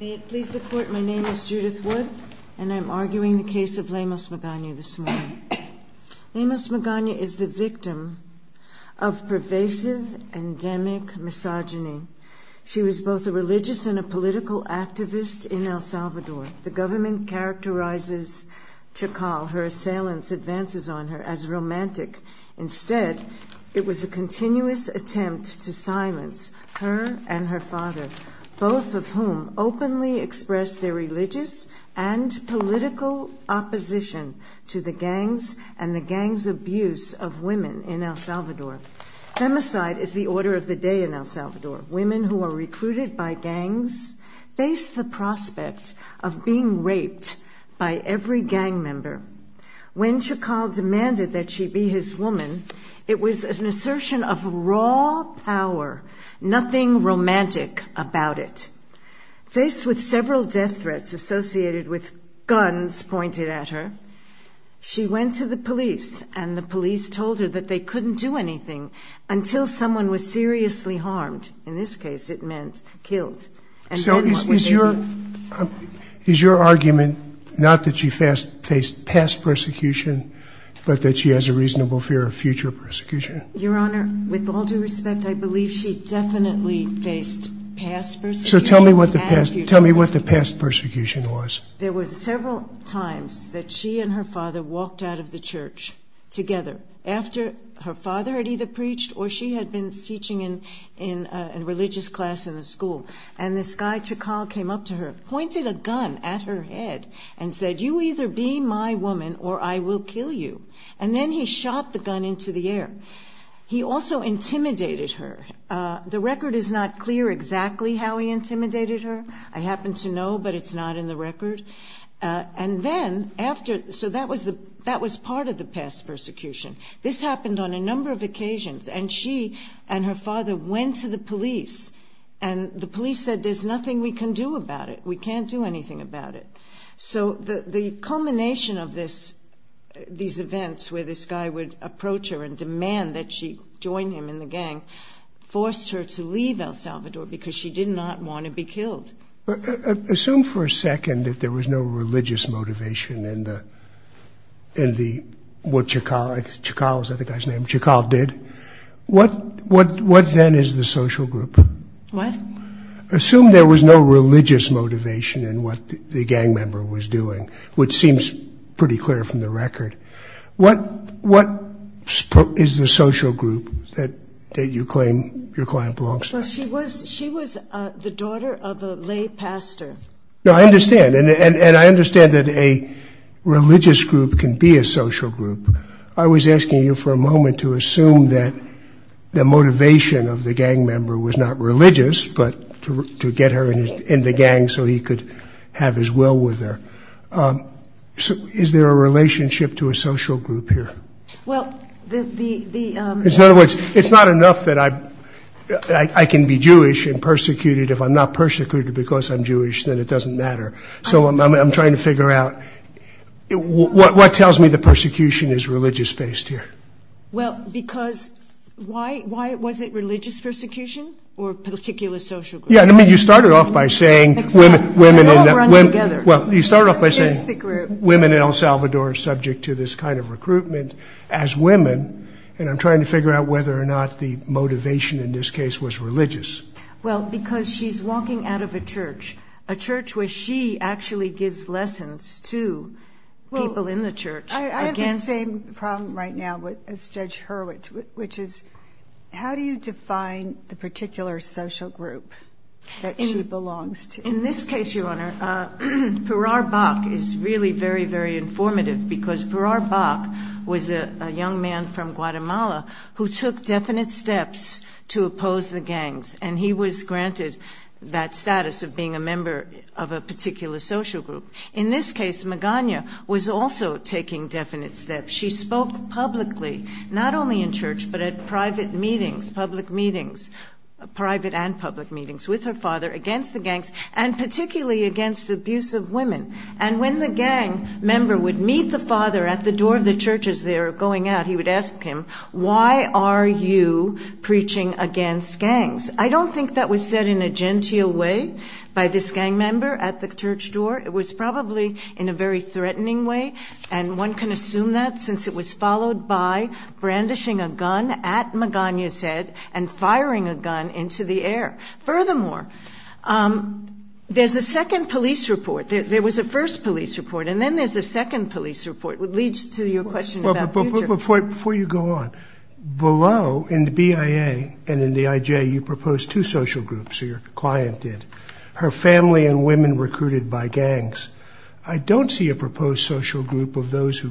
May it please the Court, my name is Judith Wood and I am arguing the case of Lemos Magana this morning. Lemos Magana is the victim of pervasive endemic misogyny. She was both a religious and a political activist in El Salvador. The government characterizes Chacal, her assailant's advances on her, as romantic. Instead, it was a continuous attempt to silence her and her father, both of whom openly expressed their religious and political opposition to the gangs and the gangs' abuse of women in El Salvador. Femicide is the order of the day in El Salvador. Women who are recruited by gangs face the prospect of being raped by every gang member. When Chacal demanded that she be his woman, it was an assertion of raw power, nothing romantic about it. Faced with several death threats associated with guns pointed at her, she went to the police and the police told her that they couldn't do anything until someone was seriously harmed, in this case it meant killed. So is your argument not that she faced past persecution but that she has a reasonable fear of future persecution? Your Honor, with all due respect, I believe she definitely faced past persecution and future persecution. So tell me what the past persecution was. There were several times that she and her father walked out of the church together after her father had either preached or she had been teaching in a religious class in the school. And this guy, Chacal, came up to her, pointed a gun at her head and said, you either be my woman or I will kill you. And then he shot the gun into the air. He also intimidated her. The record is not clear exactly how he intimidated her. I happen to know but it's not in the record. And then after, so that was part of the past persecution. This happened on a number of occasions and she and her father went to the police and the police said there's nothing we can do about it. We can't do anything about it. So the culmination of this, these events where this guy would approach her and demand that she join him in the gang, forced her to leave El Salvador because she did not want to be killed. Assume for a second that there was no religious motivation in what Chacal did, what then is the social group? Assume there was no religious motivation in what the gang member was doing, which seems pretty clear from the record. What is the social group that you claim your client belongs to? Well, she was the daughter of a lay pastor. No, I understand and I understand that a religious group can be a social group. I was asking you for a moment to assume that the motivation of the gang member was not religious but to get her in the gang so he could have his will with her. Is there a relationship to a social group here? Well, the... In other words, it's not enough that I can be Jewish and persecuted. If I'm not persecuted because I'm Jewish, then it doesn't matter. So I'm trying to figure out what tells me the persecution is religious based here. Well, because why was it religious persecution or a particular social group? Yeah, I mean you started off by saying women in El Salvador are subject to this kind of persecution. As women, and I'm trying to figure out whether or not the motivation in this case was religious. Well, because she's walking out of a church, a church where she actually gives lessons to people in the church. I have the same problem right now as Judge Hurwitz, which is how do you define the particular social group that she belongs to? In this case, Your Honor, Perar Bach is really very, very informative because Perar Bach was a young man from Guatemala who took definite steps to oppose the gangs. And he was granted that status of being a member of a particular social group. In this case, Magana was also taking definite steps. She spoke publicly, not only in church, but at private meetings, public meetings, private and public meetings with her father against the gangs, and particularly against abusive women. And when the gang member would meet the father at the door of the churches, they were going out, he would ask him, why are you preaching against gangs? I don't think that was said in a genteel way by this gang member at the church door. It was probably in a very threatening way. And one can assume that since it was followed by brandishing a gun at Magana's head and Furthermore, there's a second police report. There was a first police report, and then there's a second police report, which leads to your question about future. Before you go on, below, in the BIA and in the IJ, you propose two social groups, or your client did, her family and women recruited by gangs. I don't see a proposed social group of those who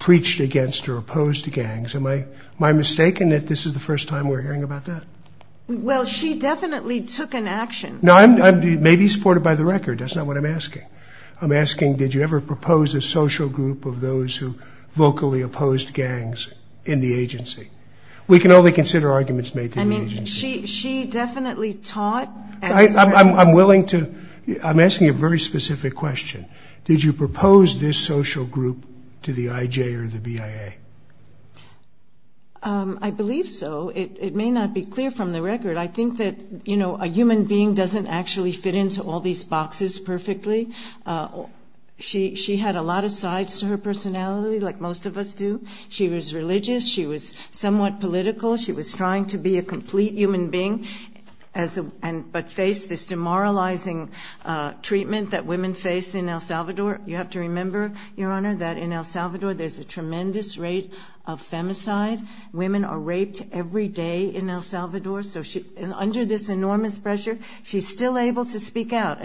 preached against or opposed the gangs. Am I mistaken that this is the first time we're hearing about that? Well, she definitely took an action. Now, I may be supported by the record, that's not what I'm asking. I'm asking, did you ever propose a social group of those who vocally opposed gangs in the agency? We can only consider arguments made to the agency. She definitely taught at this church. I'm asking a very specific question. Did you propose this social group to the IJ or the BIA? I believe so. It may not be clear from the record. I think that a human being doesn't actually fit into all these boxes perfectly. She had a lot of sides to her personality, like most of us do. She was religious. She was somewhat political. She was trying to be a complete human being, but faced this demoralizing treatment that women face in El Salvador. You have to remember, Your Honor, that in El Salvador there's a tremendous rate of femicide. Women are raped every day in El Salvador. Under this enormous pressure, she's still able to speak out.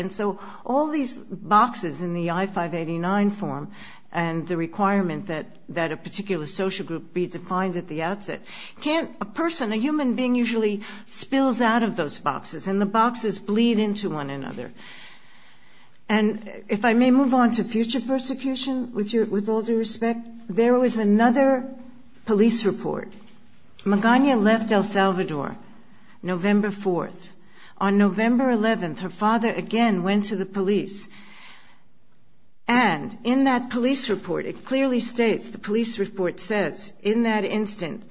All these boxes in the I-589 form and the requirement that a particular social group be defined at the outset, a person, a human being usually spills out of those boxes, and the boxes bleed into one another. If I may move on to future persecution, with all due respect. There was another police report. Magana left El Salvador November 4th. On November 11th, her father again went to the police. And in that police report, it clearly states, the police report says, in that instant,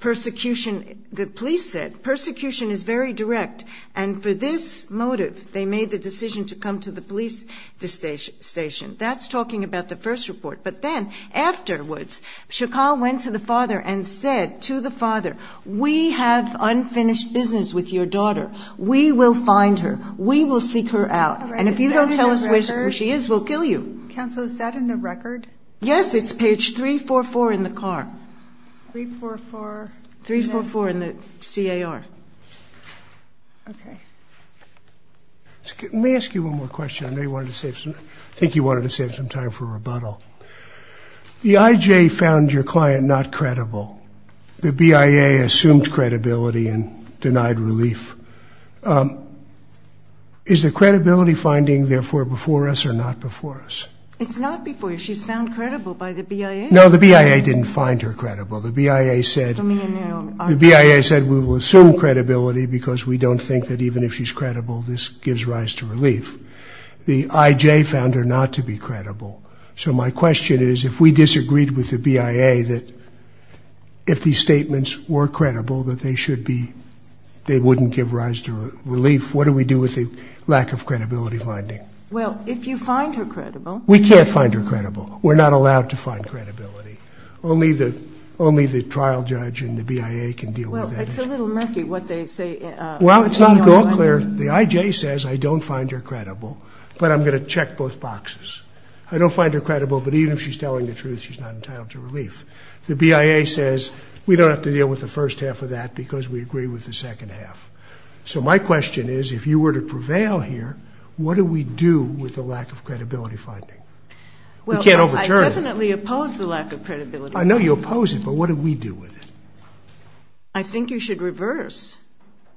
persecution, the police said, persecution is very direct. And for this motive, they made the decision to come to the police station. That's talking about the first report. But then, afterwards, Chacal went to the father and said to the father, we have unfinished business with your daughter. We will find her. We will seek her out. And if you don't tell us where she is, we'll kill you. Counsel, is that in the record? Yes, it's page 344 in the car. 344. 344 in the CAR. Okay. Let me ask you one more question. I think you wanted to save some time for rebuttal. The IJ found your client not credible. The BIA assumed credibility and denied relief. Is the credibility finding, therefore, before us or not before us? It's not before us. She's found credible by the BIA. No, the BIA didn't find her credible. The BIA said we will assume credibility because we don't think that even if she's credible, this gives rise to relief. The IJ found her not to be credible. So my question is, if we disagreed with the BIA that if these statements were credible, that they wouldn't give rise to relief, what do we do with the lack of credibility finding? Well, if you find her credible... We can't find her credible. We're not allowed to find credibility. Only the trial judge and the BIA can deal with that. Well, it's a little murky what they say. Well, it's not at all clear. The IJ says I don't find her credible, but I'm going to check both boxes. I don't find her credible, but even if she's telling the truth, she's not entitled to relief. The BIA says we don't have to deal with the first half of that because we agree with the second half. So my question is, if you were to prevail here, what do we do with the lack of credibility finding? We can't overturn it. I definitely oppose the lack of credibility. I know you oppose it, but what do we do with it? I think you should reverse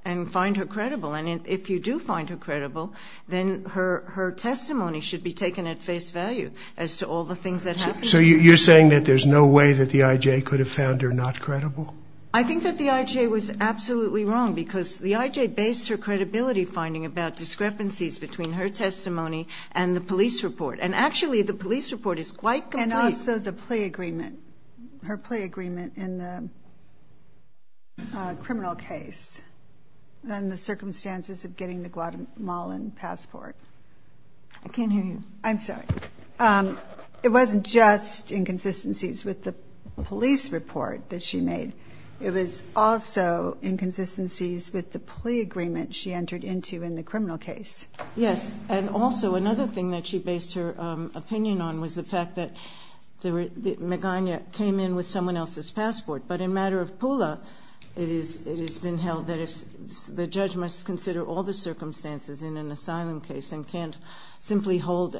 and find her credible. And if you do find her credible, then her testimony should be taken at face value as to all the things that happened. So you're saying that there's no way that the IJ could have found her not credible? I think that the IJ was absolutely wrong because the IJ based her credibility finding about discrepancies between her testimony and the police report. And actually, the police report is quite complete. And also the plea agreement, her plea agreement in the criminal case and the circumstances of getting the Guatemalan passport. I can't hear you. I'm sorry. It wasn't just inconsistencies with the police report that she made. It was also inconsistencies with the plea agreement she entered into in the criminal case. Yes. And also another thing that she based her opinion on was the fact that Magana came in with someone else's passport. But in matter of Pula, it has been held that the judge must consider all the circumstances in an asylum case and can't simply hold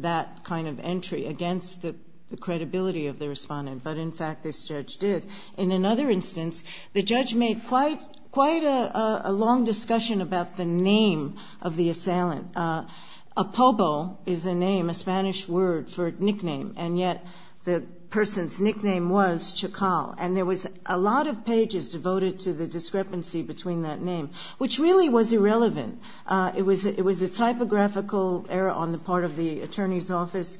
that kind of entry against the credibility of the respondent. But, in fact, this judge did. In another instance, the judge made quite a long discussion about the name of the assailant. Apobo is a name, a Spanish word for nickname, and yet the person's nickname was Chacal. And there was a lot of pages devoted to the discrepancy between that name, which really was irrelevant. It was a typographical error on the part of the attorney's office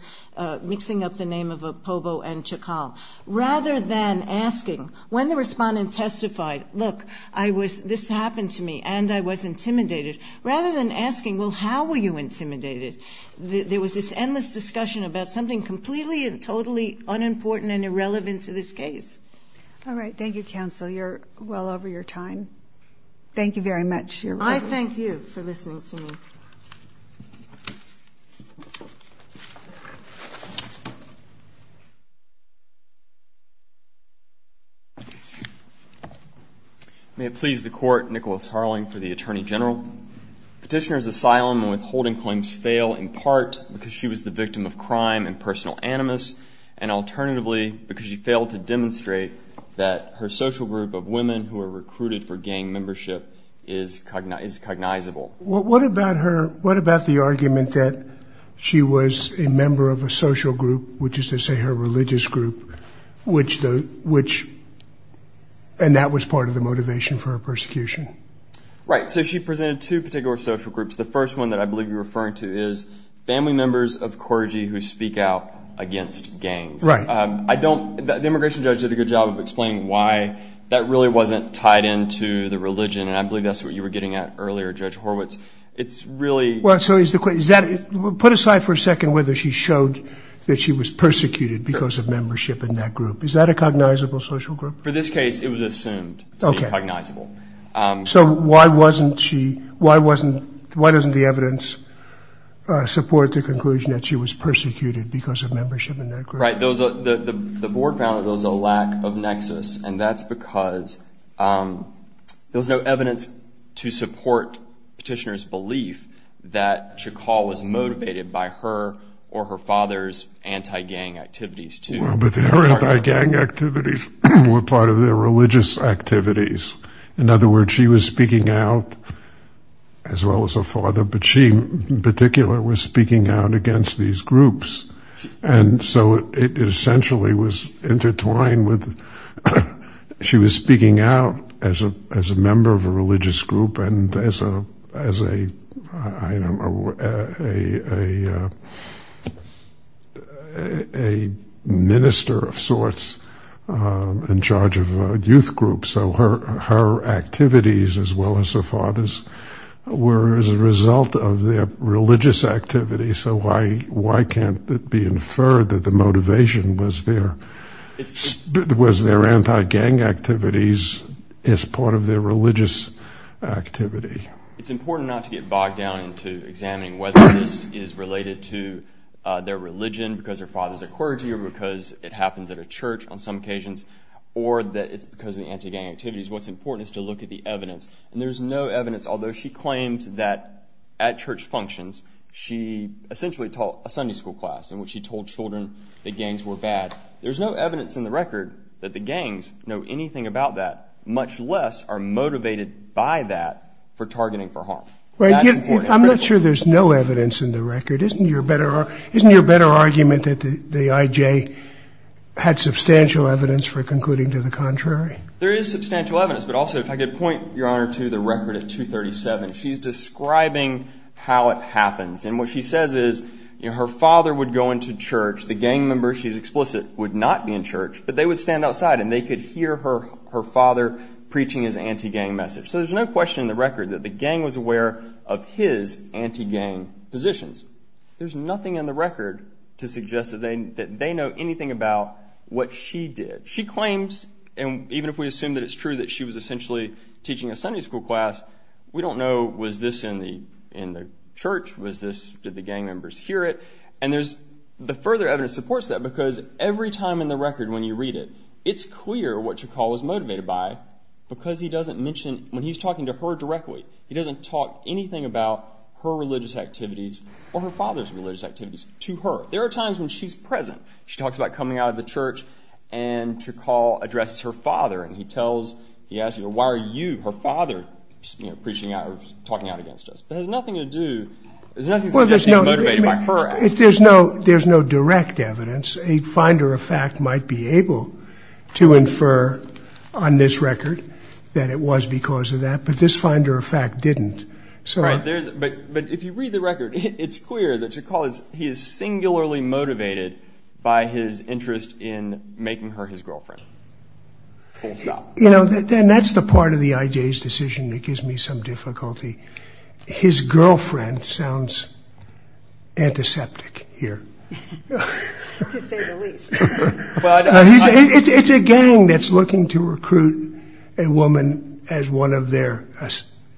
mixing up the name of Apobo and Chacal. Rather than asking, when the respondent testified, look, this happened to me and I was intimidated, rather than asking, well, how were you intimidated, there was this endless discussion about something completely and totally unimportant and irrelevant to this case. All right. Thank you, counsel. You're well over your time. Thank you very much. I thank you for listening to me. May it please the Court, Nicholas Harling for the Attorney General. Petitioner's asylum and withholding claims fail in part because she was the victim of crime and personal animus, and alternatively because she failed to demonstrate that her social group of women who were recruited for gang membership is cognizable. What about the argument that she was a member of a social group, which is to say her religious group, and that was part of the motivation for her persecution? Right. So she presented two particular social groups. The first one that I believe you're referring to is family members of clergy who speak out against gangs. Right. The immigration judge did a good job of explaining why that really wasn't tied into the religion, and I believe that's what you were getting at earlier, Judge Horwitz. So put aside for a second whether she showed that she was persecuted because of membership in that group. Is that a cognizable social group? For this case, it was assumed to be cognizable. So why doesn't the evidence support the conclusion that she was persecuted because of membership in that group? Right. The board found that there was a lack of nexus, and that's because there was no evidence to support Petitioner's belief that Chakal was motivated by her or her father's anti-gang activities. Well, but their anti-gang activities were part of their religious activities. In other words, she was speaking out as well as her father, but she in particular was speaking out against these groups. And so it essentially was intertwined with she was speaking out as a member of a religious group and as a minister of sorts in charge of a youth group. So her activities as well as her father's were as a result of their religious activities. So why can't it be inferred that the motivation was their anti-gang activities as part of their religious activity? It's important not to get bogged down into examining whether this is related to their religion because their father's a clergy or because it happens at a church on some occasions or that it's because of the anti-gang activities. And there's no evidence, although she claimed that at church functions she essentially taught a Sunday school class in which she told children that gangs were bad. There's no evidence in the record that the gangs know anything about that, much less are motivated by that for targeting for harm. That's important. I'm not sure there's no evidence in the record. Isn't your better argument that the IJ had substantial evidence for concluding to the contrary? There is substantial evidence, but also if I could point, Your Honor, to the record of 237. She's describing how it happens. And what she says is her father would go into church. The gang members, she's explicit, would not be in church, but they would stand outside and they could hear her father preaching his anti-gang message. So there's no question in the record that the gang was aware of his anti-gang positions. There's nothing in the record to suggest that they know anything about what she did. She claims, and even if we assume that it's true that she was essentially teaching a Sunday school class, we don't know was this in the church, did the gang members hear it. And the further evidence supports that because every time in the record when you read it, it's clear what Chakal was motivated by because he doesn't mention, when he's talking to her directly, he doesn't talk anything about her religious activities or her father's religious activities to her. There are times when she's present. She talks about coming out of the church, and Chakal addresses her father. And he tells, he asks her, why are you, her father, preaching out or talking out against us? But it has nothing to do, there's nothing to suggest he's motivated by her. There's no direct evidence. A finder of fact might be able to infer on this record that it was because of that. But this finder of fact didn't. But if you read the record, it's clear that Chakal is, he is singularly motivated by his interest in making her his girlfriend. You know, then that's the part of the IJ's decision that gives me some difficulty. His girlfriend sounds antiseptic here. To say the least. It's a gang that's looking to recruit a woman as one of their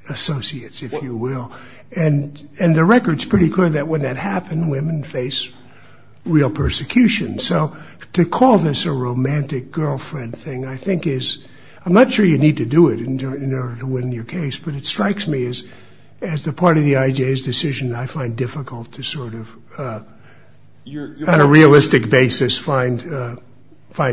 associates, if you will. And the record's pretty clear that when that happened, women face real persecution. So to call this a romantic girlfriend thing, I think is, I'm not sure you need to do it in order to win your case, but it strikes me as the part of the IJ's decision that I find difficult to sort of, on a realistic basis, find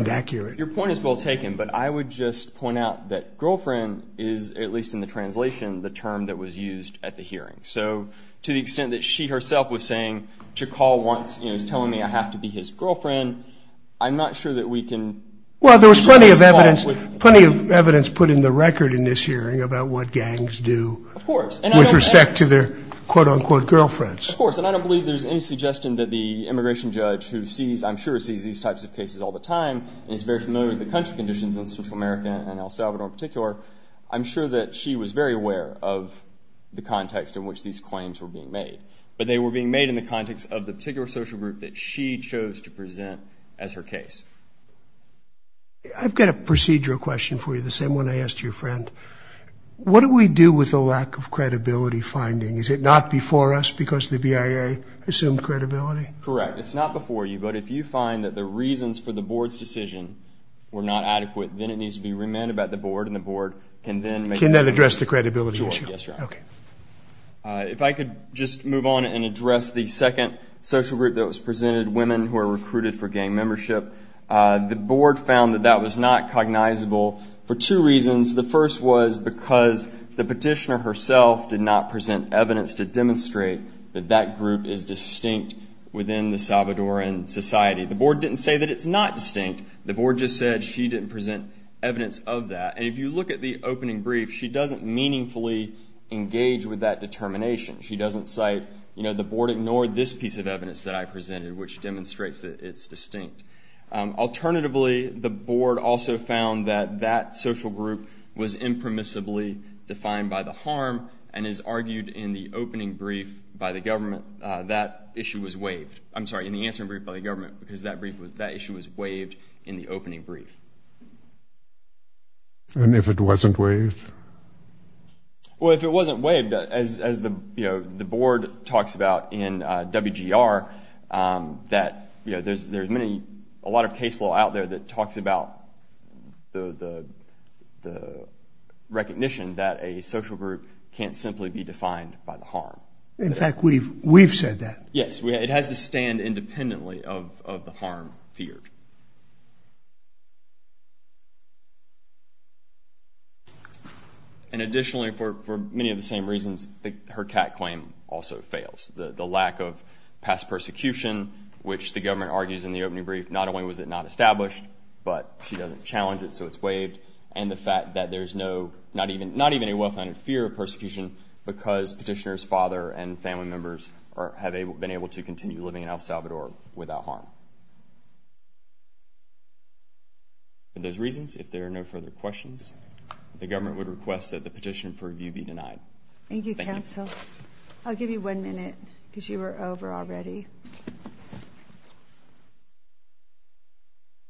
accurate. Your point is well taken. But I would just point out that girlfriend is, at least in the translation, the term that was used at the hearing. So to the extent that she herself was saying Chakal wants, you know, is telling me I have to be his girlfriend, I'm not sure that we can. Well, there was plenty of evidence, plenty of evidence put in the record in this hearing about what gangs do. Of course. With respect to their quote unquote girlfriends. Of course. And I don't believe there's any suggestion that the immigration judge who sees, I'm sure sees these types of cases all the time and is very familiar with the country conditions in Central America and El Salvador in particular, I'm sure that she was very aware of the context in which these claims were being made. But they were being made in the context of the particular social group that she chose to present as her case. I've got a procedural question for you, the same one I asked your friend. What do we do with the lack of credibility finding? Is it not before us because the BIA assumed credibility? Correct. It's not before you, but if you find that the reasons for the board's decision were not adequate, then it needs to be remanded by the board and the board can then make a decision. Can that address the credibility issue? Sure. Yes, Your Honor. Okay. If I could just move on and address the second social group that was presented, women who are recruited for gang membership. The board found that that was not cognizable for two reasons. The first was because the petitioner herself did not present evidence to demonstrate that that group is distinct within the Salvadoran society. The board didn't say that it's not distinct. The board just said she didn't present evidence of that. And if you look at the opening brief, she doesn't meaningfully engage with that determination. She doesn't cite, you know, the board ignored this piece of evidence that I presented, which demonstrates that it's distinct. Alternatively, the board also found that that social group was impermissibly defined by the harm and has argued in the opening brief by the government that issue was waived. I'm sorry, in the answering brief by the government, because that issue was waived in the opening brief. And if it wasn't waived? Well, if it wasn't waived, as the board talks about in WGR, that there's a lot of case law out there that talks about the recognition that a social group can't simply be defined by the harm. In fact, we've said that. Yes, it has to stand independently of the harm feared. And additionally, for many of the same reasons, her CAT claim also fails. The lack of past persecution, which the government argues in the opening brief, not only was it not established, but she doesn't challenge it, so it's waived. And the fact that there's not even a well-founded fear of persecution because petitioner's father and family members have been able to continue living in El Salvador without harm. For those reasons, if there are no further questions, the government would request that the petition for review be denied. Thank you, counsel. I'll give you one minute, because you were over already.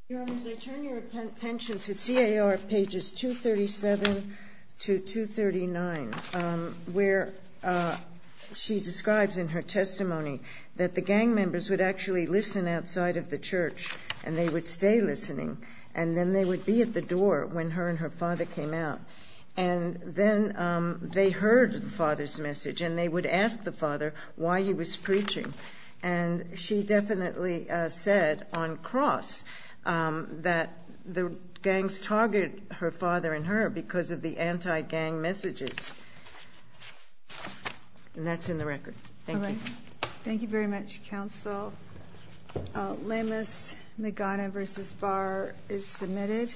Your Honor, as I turn your attention to CAR pages 237 to 239, where she describes in her testimony that the gang members would actually listen outside of the church, and they would stay listening, and then they would be at the door when her and her father came out. And then they heard the father's message, and they would ask the father why he was preaching. And she definitely said, on cross, that the gangs target her father and her because of the anti-gang messages. And that's in the record. Thank you. All right. Thank you very much, counsel. Lemus Magana v. Barr is submitted.